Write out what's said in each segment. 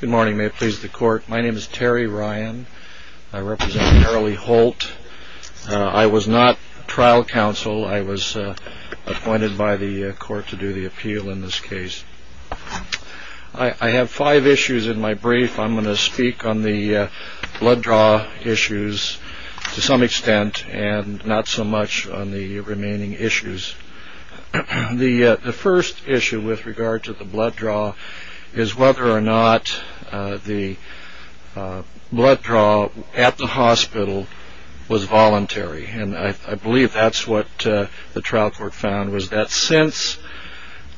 Good morning, may it please the court. My name is Terry Ryan. I represent Marilee Holt. I was not trial counsel. I was appointed by the court to do the appeal in this case. I have five issues in my brief. I'm going to speak on the blood draw issues to some extent and not so much on the remaining issues. The first issue with regard to the blood draw is whether or not the blood draw at the hospital was voluntary. I believe that's what the trial court found, was that since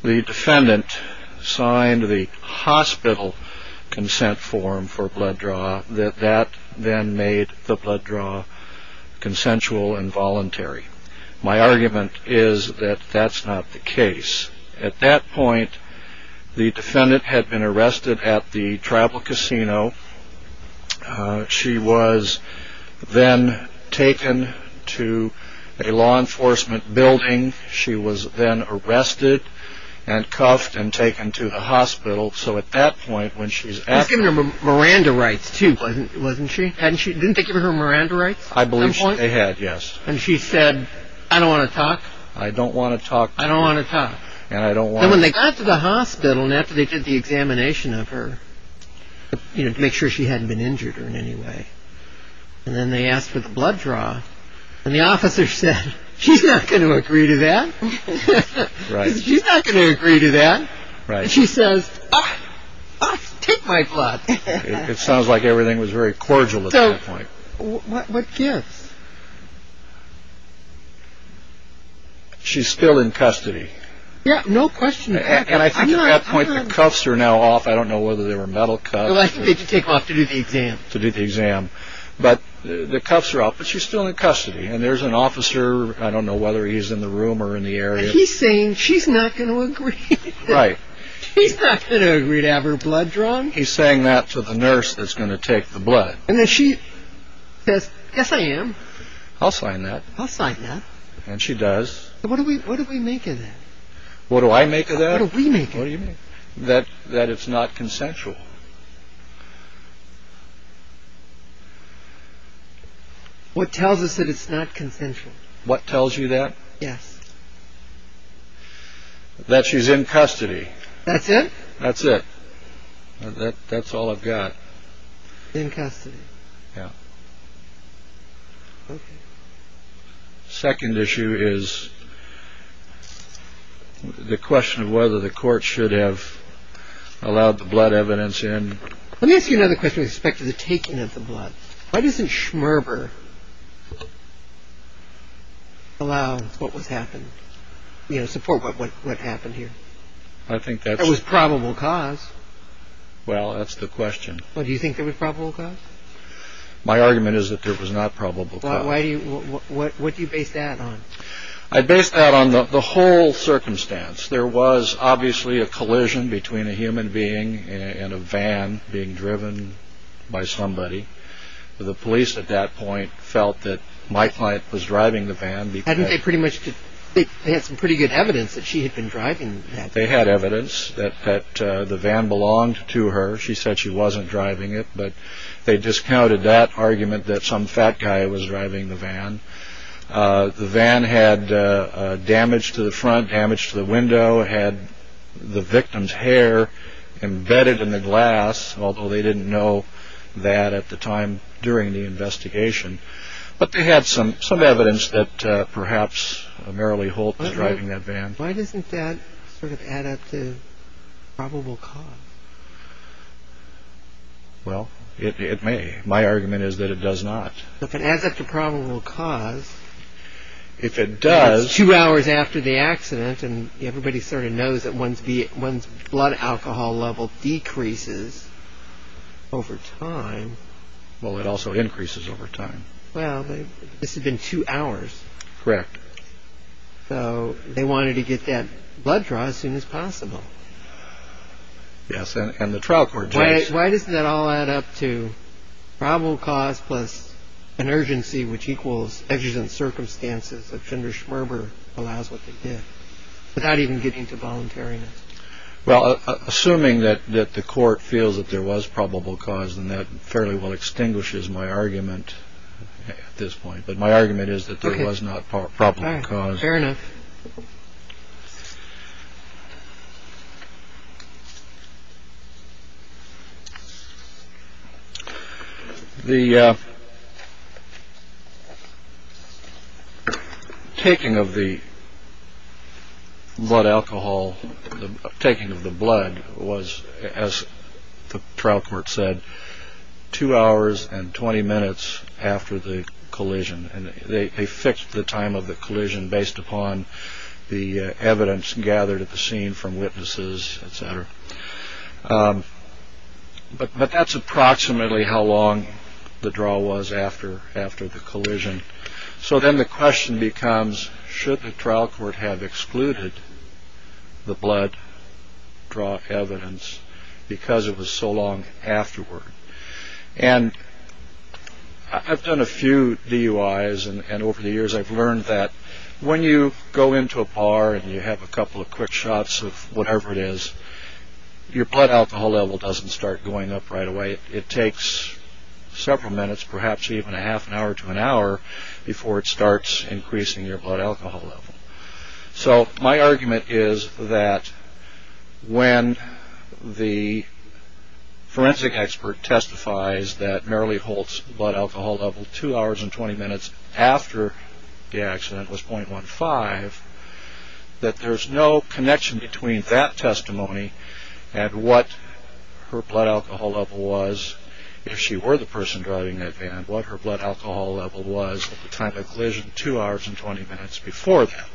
the defendant signed the hospital consent form for blood draw, that that then made the blood draw consensual and voluntary. My argument is that that's not the case. At that point, the defendant had been arrested at the Travel Casino. She was then taken to a law enforcement building. She was then arrested and cuffed and taken to the hospital. So at that point when she's at the... She was given her Miranda rights too, wasn't she? Didn't they give her Miranda rights at some point? I believe they had, yes. And she said, I don't want to talk. I don't want to talk. I don't want to talk. And I don't want to... And when they got to the hospital and after they did the examination of her, you know, to make sure she hadn't been injured in any way, and then they asked for the blood draw, and the officer said, she's not going to agree to that. Right. She's not going to agree to that. Right. And she says, take my blood. It sounds like everything was very cordial at that point. What gives? She's still in custody. Yeah, no question. And I think at that point the cuffs are now off. I don't know whether they were metal cuffs. I think they just take them off to do the exam. To do the exam. But the cuffs are off, but she's still in custody. And there's an officer, I don't know whether he's in the room or in the area. He's saying she's not going to agree. Right. He's not going to agree to have her blood drawn. He's saying that to the nurse that's going to take the blood. And then she says, yes, I am. I'll sign that. I'll sign that. And she does. What do we make of that? What do I make of that? What do we make of that? That it's not consensual. What tells us that it's not consensual? What tells you that? Yes. That she's in custody. That's it? That's it. That's all I've got. She's in custody. Yeah. Okay. Second issue is the question of whether the court should have allowed the blood evidence in. Let me ask you another question with respect to the taking of the blood. Why doesn't Schmerber allow what was happened, you know, support what happened here? I think that's... It was probable cause. Well, that's the question. Do you think there was probable cause? My argument is that there was not probable cause. Why do you... What do you base that on? I base that on the whole circumstance. There was obviously a collision between a human being and a van being driven by somebody. The police at that point felt that my client was driving the van because... Hadn't they pretty much... They had some pretty good evidence that she had been driving that van. They had evidence that the van belonged to her. She said she wasn't driving it. But they discounted that argument that some fat guy was driving the van. The van had damage to the front, damage to the window. It had the victim's hair embedded in the glass, although they didn't know that at the time during the investigation. But they had some evidence that perhaps Marilee Holt was driving that van. Why doesn't that sort of add up to probable cause? Well, it may. My argument is that it does not. If it adds up to probable cause... If it does... That's two hours after the accident, and everybody sort of knows that one's blood alcohol level decreases over time. Well, it also increases over time. Well, this had been two hours. Correct. So they wanted to get that blood draw as soon as possible. Yes, and the trial court... Why doesn't that all add up to probable cause plus an urgency, which equals exigent circumstances, which under Schmerber allows what they did, without even getting to voluntariness? Well, assuming that the court feels that there was probable cause, then that fairly well extinguishes my argument at this point. But my argument is that there was not probable cause. Fair enough. The taking of the blood alcohol, the taking of the blood, was, as the trial court said, two hours and 20 minutes after the collision. And they fixed the time of the collision based upon the evidence gathered at the scene from witnesses, etc. But that's approximately how long the draw was after the collision. So then the question becomes, should the trial court have excluded the blood draw evidence because it was so long afterward? And I've done a few DUIs, and over the years I've learned that when you go into a bar and you have a couple of quick shots of whatever it is, your blood alcohol level doesn't start going up right away. It takes several minutes, perhaps even a half an hour to an hour, before it starts increasing your blood alcohol level. So my argument is that when the forensic expert testifies that Marilee Holt's blood alcohol level two hours and 20 minutes after the accident was 0.15, that there's no connection between that testimony and what her blood alcohol level was if she were the person driving that van, and what her blood alcohol level was at the time of the collision two hours and 20 minutes before that.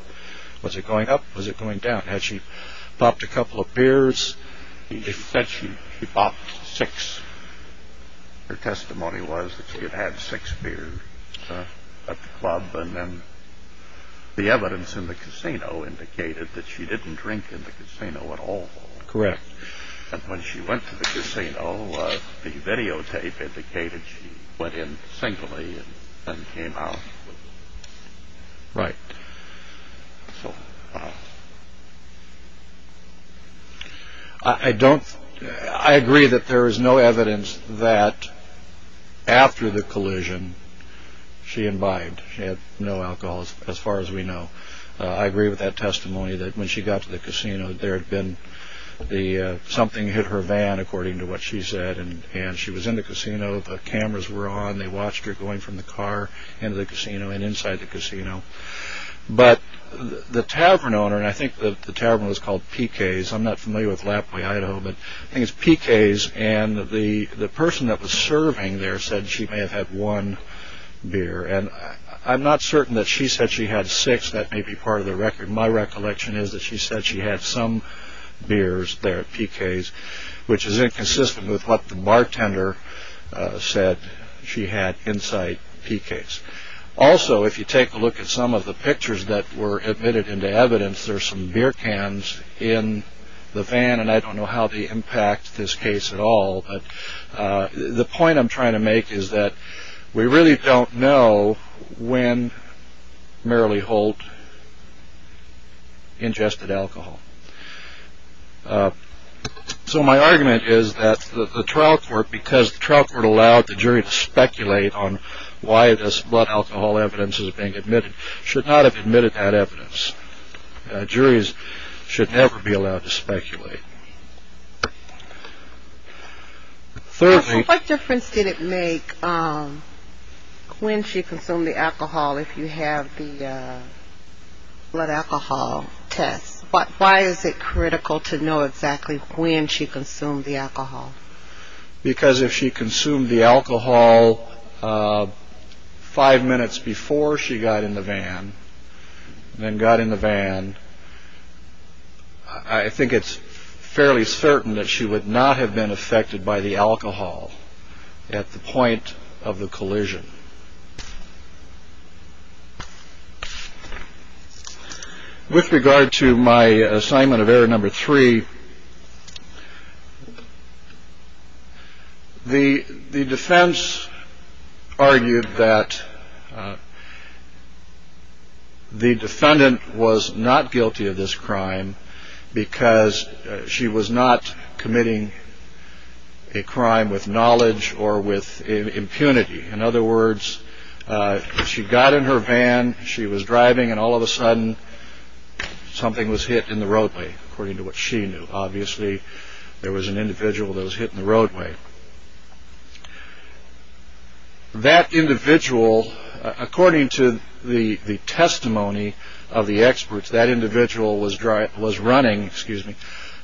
Was it going up? Was it going down? Had she popped a couple of beers? She said she popped six. Her testimony was that she had had six beers at the club, and then the evidence in the casino indicated that she didn't drink in the casino at all. Correct. And when she went to the casino, the videotape indicated she went in singly and then came out. Right. So, wow. I agree that there is no evidence that after the collision she imbibed. She had no alcohol, as far as we know. I agree with that testimony, that when she got to the casino, something hit her van, according to what she said, and she was in the casino, the cameras were on, they watched her going from the car into the casino and inside the casino. But the tavern owner, and I think the tavern was called PK's, I'm not familiar with Lapway Idaho, but I think it's PK's, and the person that was serving there said she may have had one beer. And I'm not certain that she said she had six, that may be part of the record. My recollection is that she said she had some beers there at PK's, which is inconsistent with what the bartender said she had inside PK's. Also, if you take a look at some of the pictures that were admitted into evidence, there are some beer cans in the van, and I don't know how they impact this case at all. The point I'm trying to make is that we really don't know when Merrilee Holt ingested alcohol. So my argument is that the trial court, because the trial court allowed the jury to speculate on why this blood alcohol evidence is being admitted, should not have admitted that evidence. Juries should never be allowed to speculate. What difference did it make when she consumed the alcohol if you have the blood alcohol test? Why is it critical to know exactly when she consumed the alcohol? Because if she consumed the alcohol five minutes before she got in the van, then got in the van, I think it's fairly certain that she would not have been affected by the alcohol at the point of the collision. With regard to my assignment of error number three, the defense argued that the defendant was not guilty of this crime because she was not committing a crime with knowledge or with impunity. In other words, she got in her van, she was driving, and all of a sudden something was hit in the roadway, according to what she knew. Obviously, there was an individual that was hit in the roadway. That individual, according to the testimony of the experts, that individual was running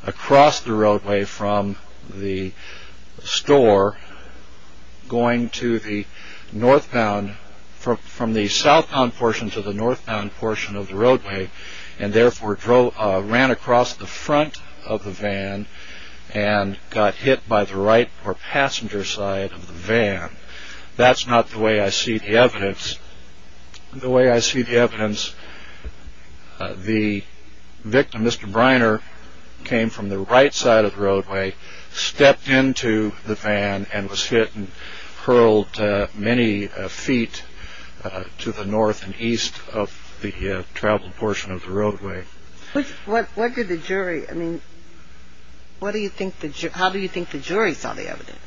across the roadway from the store, going to the northbound, from the southbound portion to the northbound portion of the roadway, and therefore ran across the front of the van and got hit by the right or passenger side of the van. That's not the way I see the evidence. The way I see the evidence, the victim, Mr. Briner, came from the right side of the roadway, stepped into the van and was hit and hurled many feet to the north and east of the traveled portion of the roadway. What did the jury, I mean, how do you think the jury saw the evidence?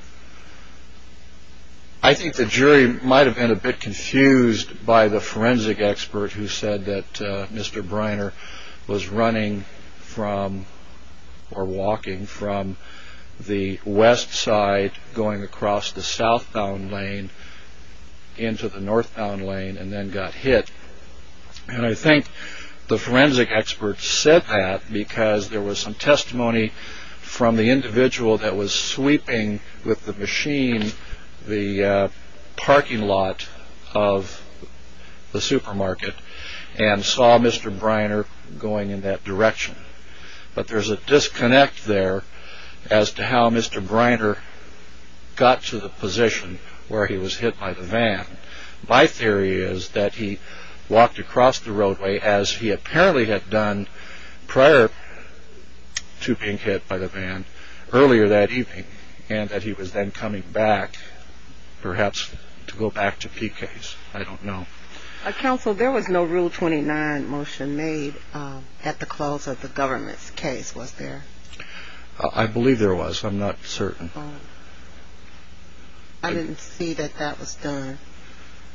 I think the jury might have been a bit confused by the forensic expert who said that Mr. Briner was running from or walking from the west side, going across the southbound lane into the northbound lane and then got hit. I think the forensic expert said that because there was some testimony from the individual that was sweeping with the machine the parking lot of the supermarket and saw Mr. Briner going in that direction. But there's a disconnect there as to how Mr. Briner got to the position where he was hit by the van. My theory is that he walked across the roadway as he apparently had done prior to being hit by the van earlier that evening and that he was then coming back, perhaps to go back to Peake Case. I don't know. Counsel, there was no Rule 29 motion made at the close of the government's case, was there? I believe there was. I'm not certain. I didn't see that that was done.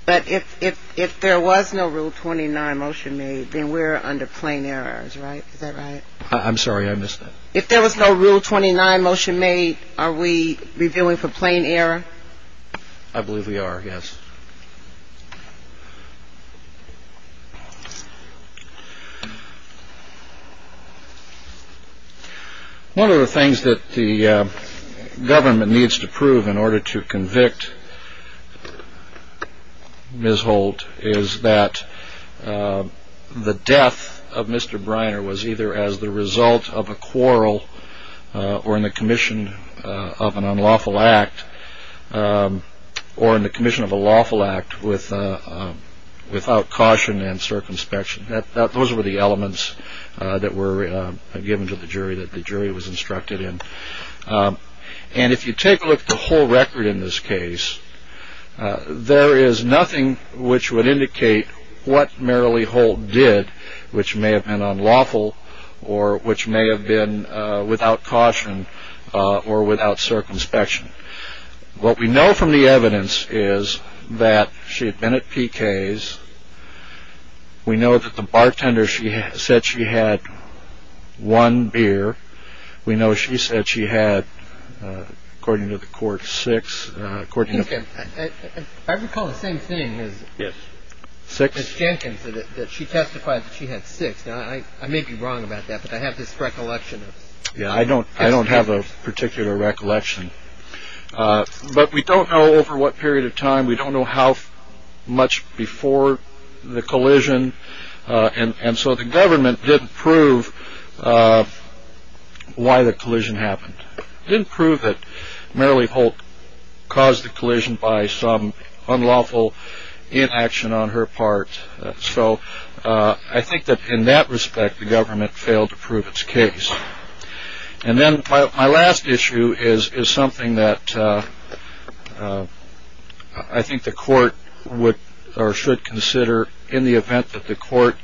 But if there was no Rule 29 motion made, then we're under plain errors, right? Is that right? I'm sorry. I missed that. If there was no Rule 29 motion made, are we reviewing for plain error? I believe we are, yes. One of the things that the government needs to prove in order to convict Ms. Holt is that the death of Mr. Briner was either as the result of a quarrel or in the commission of an unlawful act or in the commission of a lawful act without caution and circumspection. Those were the elements that were given to the jury, that the jury was instructed in. And if you take a look at the whole record in this case, there is nothing which would indicate what Merrilee Holt did which may have been unlawful or which may have been without caution or without circumspection. What we know from the evidence is that she had been at P.K.'s. We know that the bartender said she had one beer. We know she said she had, according to the court, six. I recall the same thing as Ms. Jenkins, that she testified that she had six. Now, I may be wrong about that, but I have this recollection. Yeah, I don't have a particular recollection. But we don't know over what period of time. We don't know how much before the collision. And so the government didn't prove why the collision happened. They didn't prove that Merrilee Holt caused the collision by some unlawful inaction on her part. So I think that in that respect, the government failed to prove its case. And then my last issue is something that I think the court would or should consider in the event that the court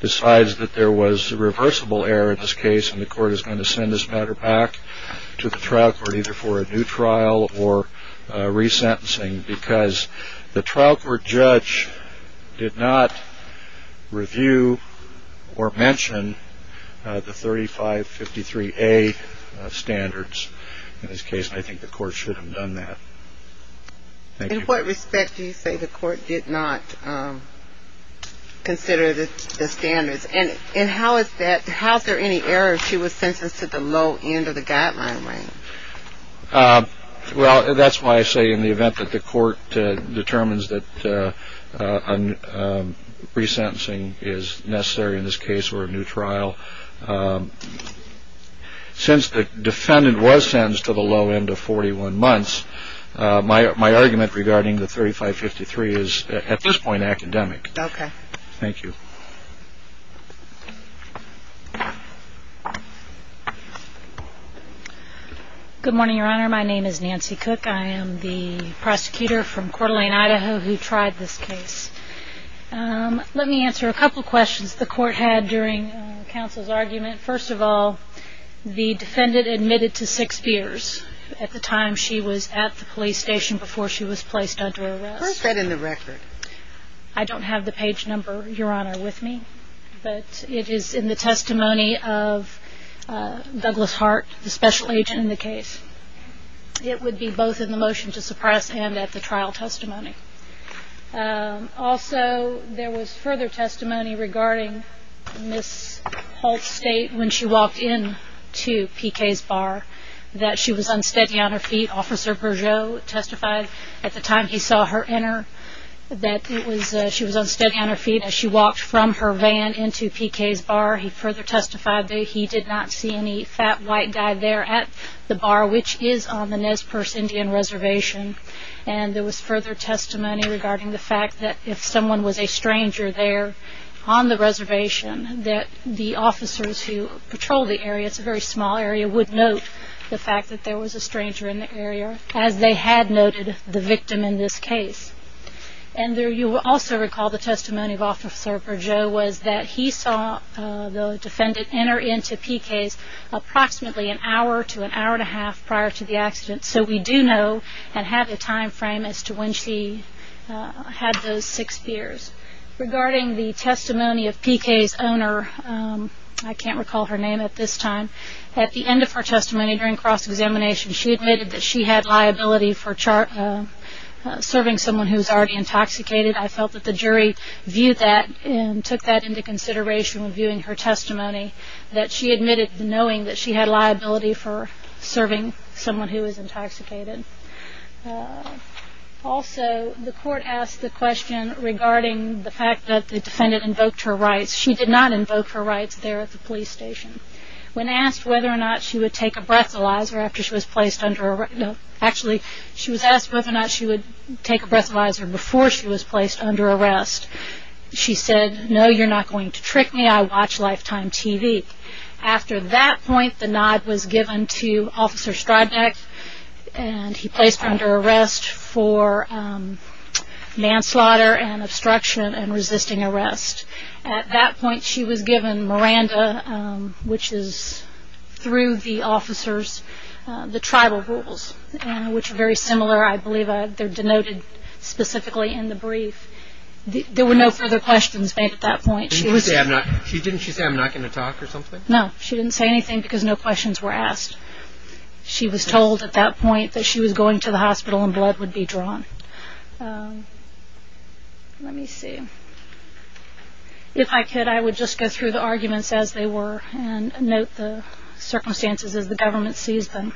decides that there was a reversible error in this case and the court is going to send this matter back to the trial court either for a new trial or resentencing because the trial court judge did not review or mention the 3553A standards in this case, and I think the court should have done that. In what respect do you say the court did not consider the standards? And how is there any error if she was sentenced to the low end of the guideline range? Well, that's why I say in the event that the court determines that resentencing is necessary in this case or a new trial, since the defendant was sentenced to the low end of 41 months, my argument regarding the 3553 is at this point academic. Okay. Thank you. Good morning, Your Honor. My name is Nancy Cook. I am the prosecutor from Coeur d'Alene, Idaho, who tried this case. Let me answer a couple of questions the court had during counsel's argument. First of all, the defendant admitted to six beers at the time she was at the police station before she was placed under arrest. Where is that in the record? I don't have the page number, Your Honor, with me, but it is in the testimony of Douglas Hart, the special agent in the case. It would be both in the motion to suppress and at the trial testimony. Also, there was further testimony regarding Ms. Holt's state when she walked into PK's bar, that she was unsteady on her feet. Officer Bergeau testified at the time he saw her enter that she was unsteady on her feet as she walked from her van into PK's bar. He further testified that he did not see any fat white guy there at the bar, which is on the Nez Perce Indian Reservation. And there was further testimony regarding the fact that if someone was a stranger there on the reservation, that the officers who patrol the area, it's a very small area, would note the fact that there was a stranger in the area as they had noted the victim in this case. And you will also recall the testimony of Officer Bergeau was that he saw the defendant enter into PK's approximately an hour to an hour and a half prior to the accident, so we do know and have a time frame as to when she had those six beers. Regarding the testimony of PK's owner, I can't recall her name at this time, at the end of her testimony during cross-examination, she admitted that she had liability for serving someone who was already intoxicated. I felt that the jury viewed that and took that into consideration when viewing her testimony, that she admitted knowing that she had liability for serving someone who was intoxicated. Also, the court asked the question regarding the fact that the defendant invoked her rights. She did not invoke her rights there at the police station. When asked whether or not she would take a breathalyzer after she was placed under arrest, actually, she was asked whether or not she would take a breathalyzer before she was placed under arrest. She said, no, you're not going to trick me, I watch Lifetime TV. After that point, the nod was given to Officer Strodnik, and he placed her under arrest for manslaughter and obstruction and resisting arrest. At that point, she was given Miranda, which is through the officers, the tribal rules, which are very similar, I believe they're denoted specifically in the brief. There were no further questions made at that point. Didn't she say, I'm not going to talk or something? No, she didn't say anything because no questions were asked. She was told at that point that she was going to the hospital and blood would be drawn. Let me see. If I could, I would just go through the arguments as they were and note the circumstances as the government sees them.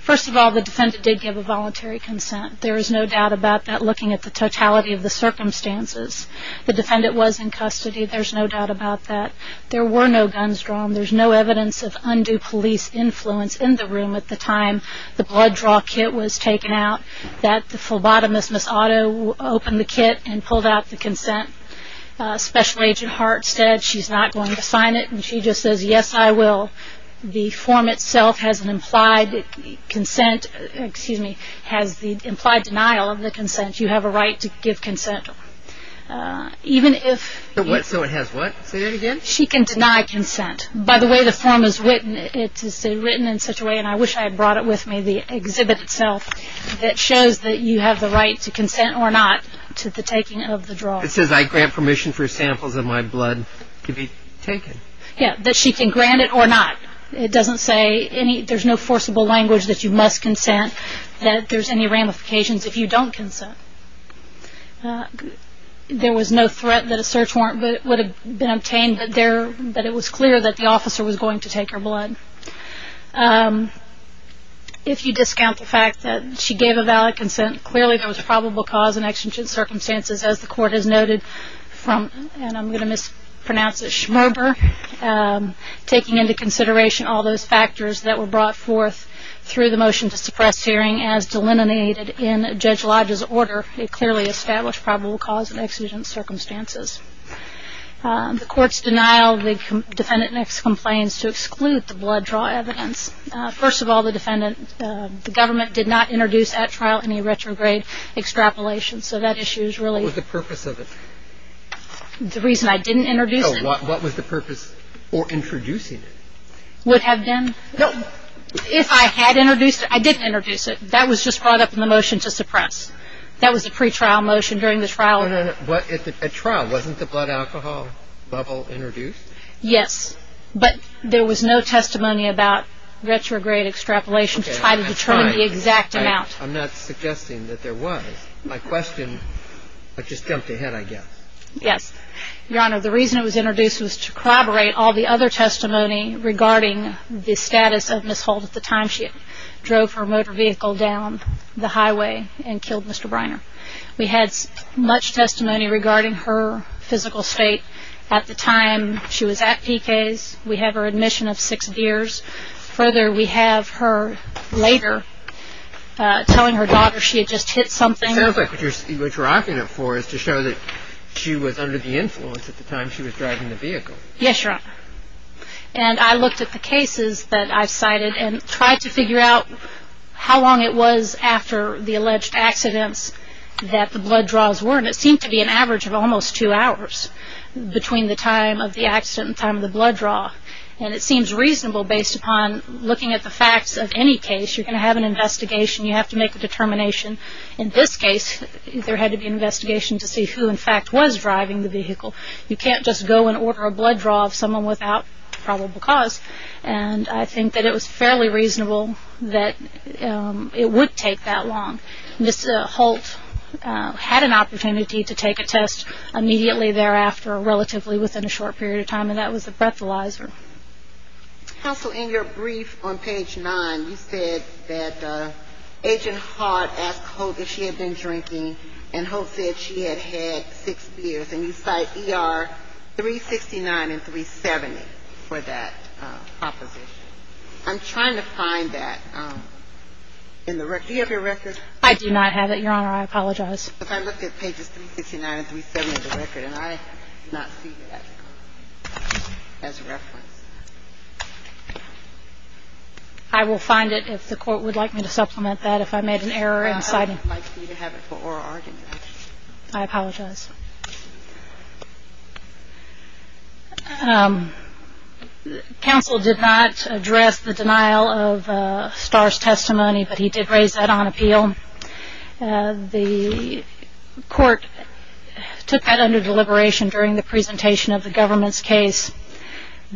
First of all, the defendant did give a voluntary consent. There is no doubt about that looking at the totality of the circumstances. The defendant was in custody. There's no doubt about that. There were no guns drawn. There's no evidence of undue police influence in the room at the time the blood draw kit was taken out, that the phlebotomist, Miss Otto, opened the kit and pulled out the consent. Special Agent Hart said she's not going to sign it, and she just says, yes, I will. The form itself has an implied consent, excuse me, has the implied denial of the consent. You have a right to give consent. So it has what? Say that again. She can deny consent. By the way, the form is written in such a way, and I wish I had brought it with me, the exhibit itself, that shows that you have the right to consent or not to the taking of the draw. It says I grant permission for samples of my blood to be taken. Yes, that she can grant it or not. It doesn't say there's no forcible language that you must consent, that there's any ramifications if you don't consent. There was no threat that a search warrant would have been obtained, but it was clear that the officer was going to take her blood. If you discount the fact that she gave a valid consent, clearly there was probable cause and exigent circumstances, as the court has noted, from, and I'm going to mispronounce it, Schmerber, taking into consideration all those factors that were brought forth through the motion to suppress hearing as delineated in Judge Lodge's order, it clearly established probable cause and exigent circumstances. The court's denial of the defendant makes complaints to exclude the blood draw evidence. First of all, the defendant, the government did not introduce at trial any retrograde extrapolation, so that issue is really. What was the purpose of it? The reason I didn't introduce it. No, what was the purpose for introducing it? Would have been, if I had introduced it, I didn't introduce it. That was just brought up in the motion to suppress. That was the pretrial motion during the trial. At trial, wasn't the blood alcohol bubble introduced? Yes, but there was no testimony about retrograde extrapolation to try to determine the exact amount. I'm not suggesting that there was. My question, I just jumped ahead, I guess. Yes. Your Honor, the reason it was introduced was to collaborate all the other testimony regarding the status of Ms. Holt at the time she drove her motor vehicle down the highway and killed Mr. Briner. We had much testimony regarding her physical state at the time she was at PK's. We have her admission of six years. Further, we have her later telling her daughter she had just hit something. It sounds like what you're arguing it for is to show that she was under the influence at the time she was driving the vehicle. Yes, Your Honor, and I looked at the cases that I cited and tried to figure out how long it was after the alleged accidents that the blood draws were. It seemed to be an average of almost two hours between the time of the accident and time of the blood draw. It seems reasonable based upon looking at the facts of any case. You're going to have an investigation. You have to make a determination. In this case, there had to be an investigation to see who in fact was driving the vehicle. You can't just go and order a blood draw of someone without probable cause, and I think that it was fairly reasonable that it would take that long. Ms. Holt had an opportunity to take a test immediately thereafter, relatively within a short period of time, and that was a breathalyzer. Counsel, in your brief on page 9, you said that Agent Hart asked Holt if she had been drinking, and Holt said she had had six beers, and you cite ER 369 and 370 for that proposition. I'm trying to find that in the record. Do you have your record? I do not have it, Your Honor. I apologize. I looked at pages 369 and 370 of the record, and I do not see that as a reference. I will find it if the Court would like me to supplement that if I made an error in citing it. I would like you to have it for oral argument. I apologize. Counsel did not address the denial of Starr's testimony, but he did raise that on appeal. The Court took that under deliberation during the presentation of the government's case,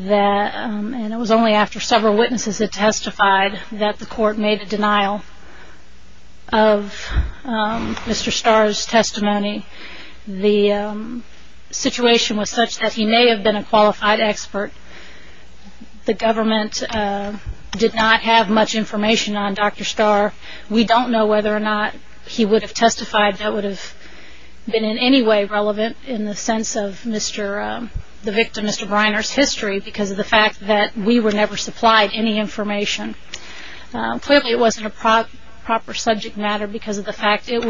and it was only after several witnesses had testified that the Court made a denial of Mr. Starr's testimony. The situation was such that he may have been a qualified expert. The government did not have much information on Dr. Starr. We don't know whether or not he would have testified that would have been in any way relevant in the sense of the victim, Mr. Briner's, history because of the fact that we were never supplied any information. Clearly, it wasn't a proper subject matter because of the fact it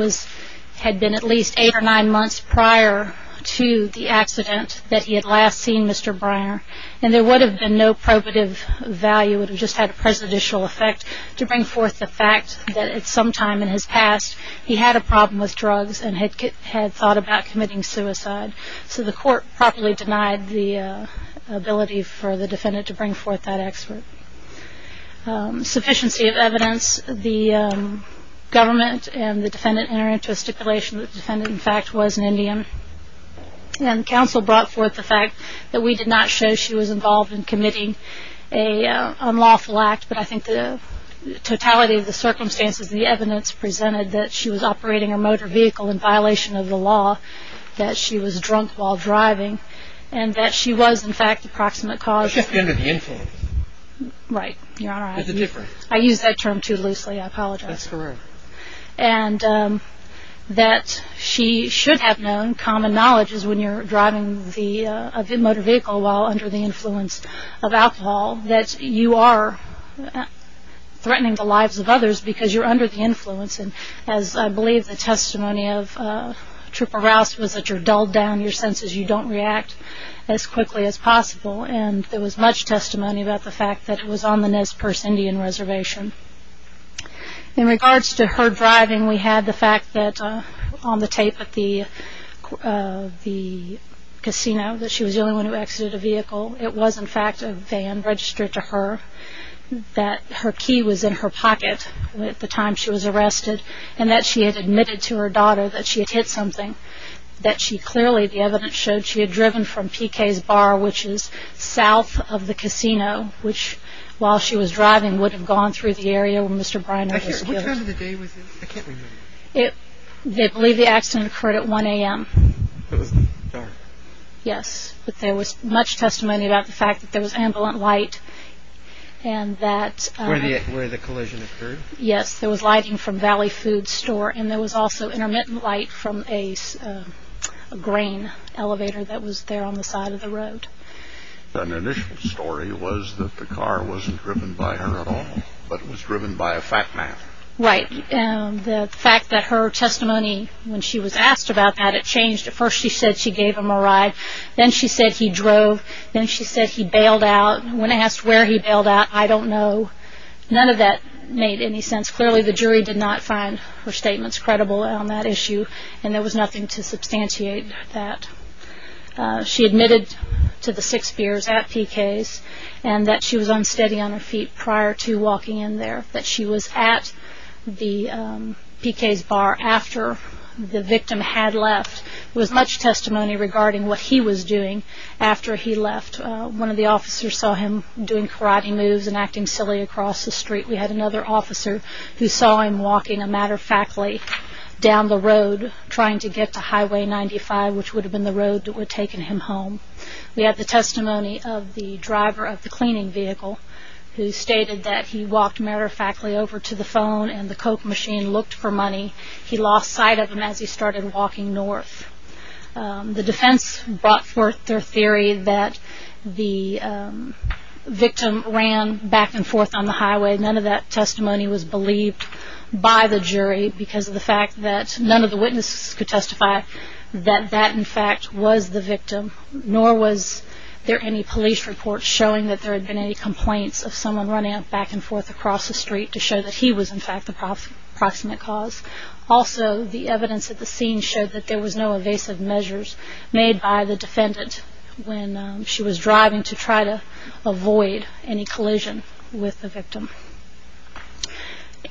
had been at least eight or nine months prior to the accident that he had last seen Mr. Briner, and there would have been no probative value. It would have just had a presidential effect to bring forth the fact that at some time in his past, he had a problem with drugs and had thought about committing suicide. So the Court properly denied the ability for the defendant to bring forth that expert. Sufficiency of evidence. The government and the defendant entered into a stipulation that the defendant, in fact, was an Indian. And counsel brought forth the fact that we did not show she was involved in committing an unlawful act, but I think the totality of the circumstances, the evidence presented that she was operating a motor vehicle in violation of the law, that she was drunk while driving, and that she was, in fact, the proximate cause. She had been an Indian for a while. Right, Your Honor. There's a difference. I used that term too loosely. I apologize. That's correct. And that she should have known, common knowledge is when you're driving a motor vehicle while under the influence of alcohol, that you are threatening the lives of others because you're under the influence. And as I believe the testimony of Trooper Rouse was that you're dulled down, your senses, you don't react as quickly as possible. And there was much testimony about the fact that it was on the Nez Perce Indian Reservation. In regards to her driving, we had the fact that on the tape at the casino that she was the only one who exited a vehicle. It was, in fact, a van registered to her, that her key was in her pocket at the time she was arrested, and that she had admitted to her daughter that she had hit something, that she clearly, the evidence showed, she had driven from P.K.'s Bar, which is south of the casino, which while she was driving would have gone through the area where Mr. Briner was killed. Which time of the day was it? I can't remember. I believe the accident occurred at 1 a.m. It was dark. Yes, but there was much testimony about the fact that there was ambulant light and that… Where the collision occurred? Yes, there was lighting from Valley Food Store, and there was also intermittent light from a grain elevator that was there on the side of the road. An initial story was that the car wasn't driven by her at all, but it was driven by a fat man. Right. The fact that her testimony, when she was asked about that, it changed. At first she said she gave him a ride. Then she said he drove. Then she said he bailed out. When asked where he bailed out, I don't know. None of that made any sense. Clearly, the jury did not find her statements credible on that issue, and there was nothing to substantiate that. She admitted to the six beers at P.K.'s and that she was unsteady on her feet prior to walking in there, that she was at the P.K.'s bar after the victim had left. There was much testimony regarding what he was doing after he left. One of the officers saw him doing karate moves and acting silly across the street. We had another officer who saw him walking, a matter of factly, down the road, trying to get to Highway 95, which would have been the road that would have taken him home. We had the testimony of the driver of the cleaning vehicle, who stated that he walked, matter of factly, over to the phone, and the Coke machine looked for money. He lost sight of him as he started walking north. The defense brought forth their theory that the victim ran back and forth on the highway. None of that testimony was believed by the jury because of the fact that none of the witnesses could testify that that, in fact, was the victim, nor was there any police report showing that there had been any complaints of someone running back and forth across the street to show that he was, in fact, the proximate cause. Also, the evidence at the scene showed that there was no evasive measures made by the defendant when she was driving to try to avoid any collision with the victim.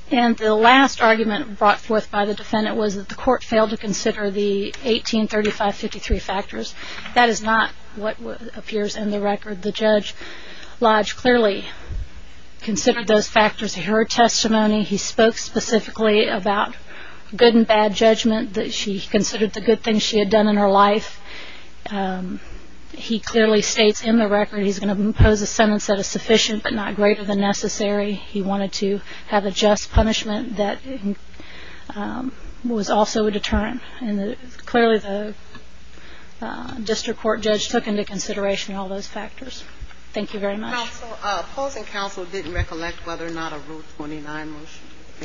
The last argument brought forth by the defendant was that the court failed to consider the 1835-53 factors. That is not what appears in the record. The judge, Lodge, clearly considered those factors in her testimony. He spoke specifically about good and bad judgment, that she considered the good things she had done in her life. He clearly states in the record he's going to impose a sentence that is sufficient but not greater than necessary. He wanted to have a just punishment that was also a deterrent. Clearly, the district court judge took into consideration all those factors. Thank you very much. Your Honor, opposing counsel didn't recollect whether or not a Rule 29 motion was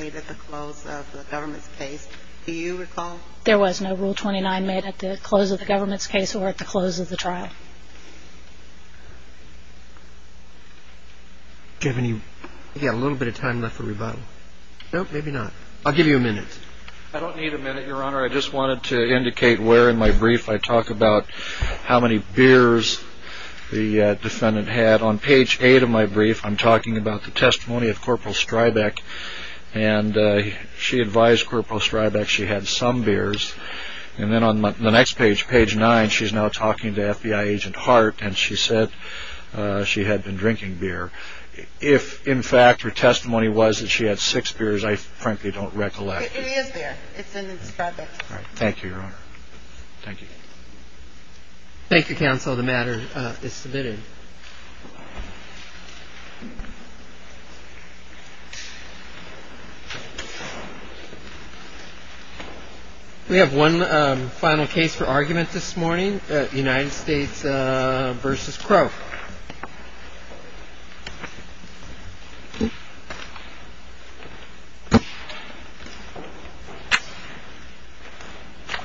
made at the close of the government's case. Do you recall? There was no Rule 29 made at the close of the government's case or at the close of the trial. Do you have a little bit of time left for rebuttal? No, maybe not. I'll give you a minute. I don't need a minute, Your Honor. Your Honor, I just wanted to indicate where in my brief I talk about how many beers the defendant had. On page 8 of my brief, I'm talking about the testimony of Corporal Strybeck, and she advised Corporal Strybeck she had some beers. And then on the next page, page 9, she's now talking to FBI agent Hart, and she said she had been drinking beer. If, in fact, her testimony was that she had six beers, I frankly don't recollect. It is there. It's in Strybeck's brief. Thank you, Your Honor. Thank you. Thank you, counsel. The matter is submitted. We have one final case for argument this morning, United States v. Crow.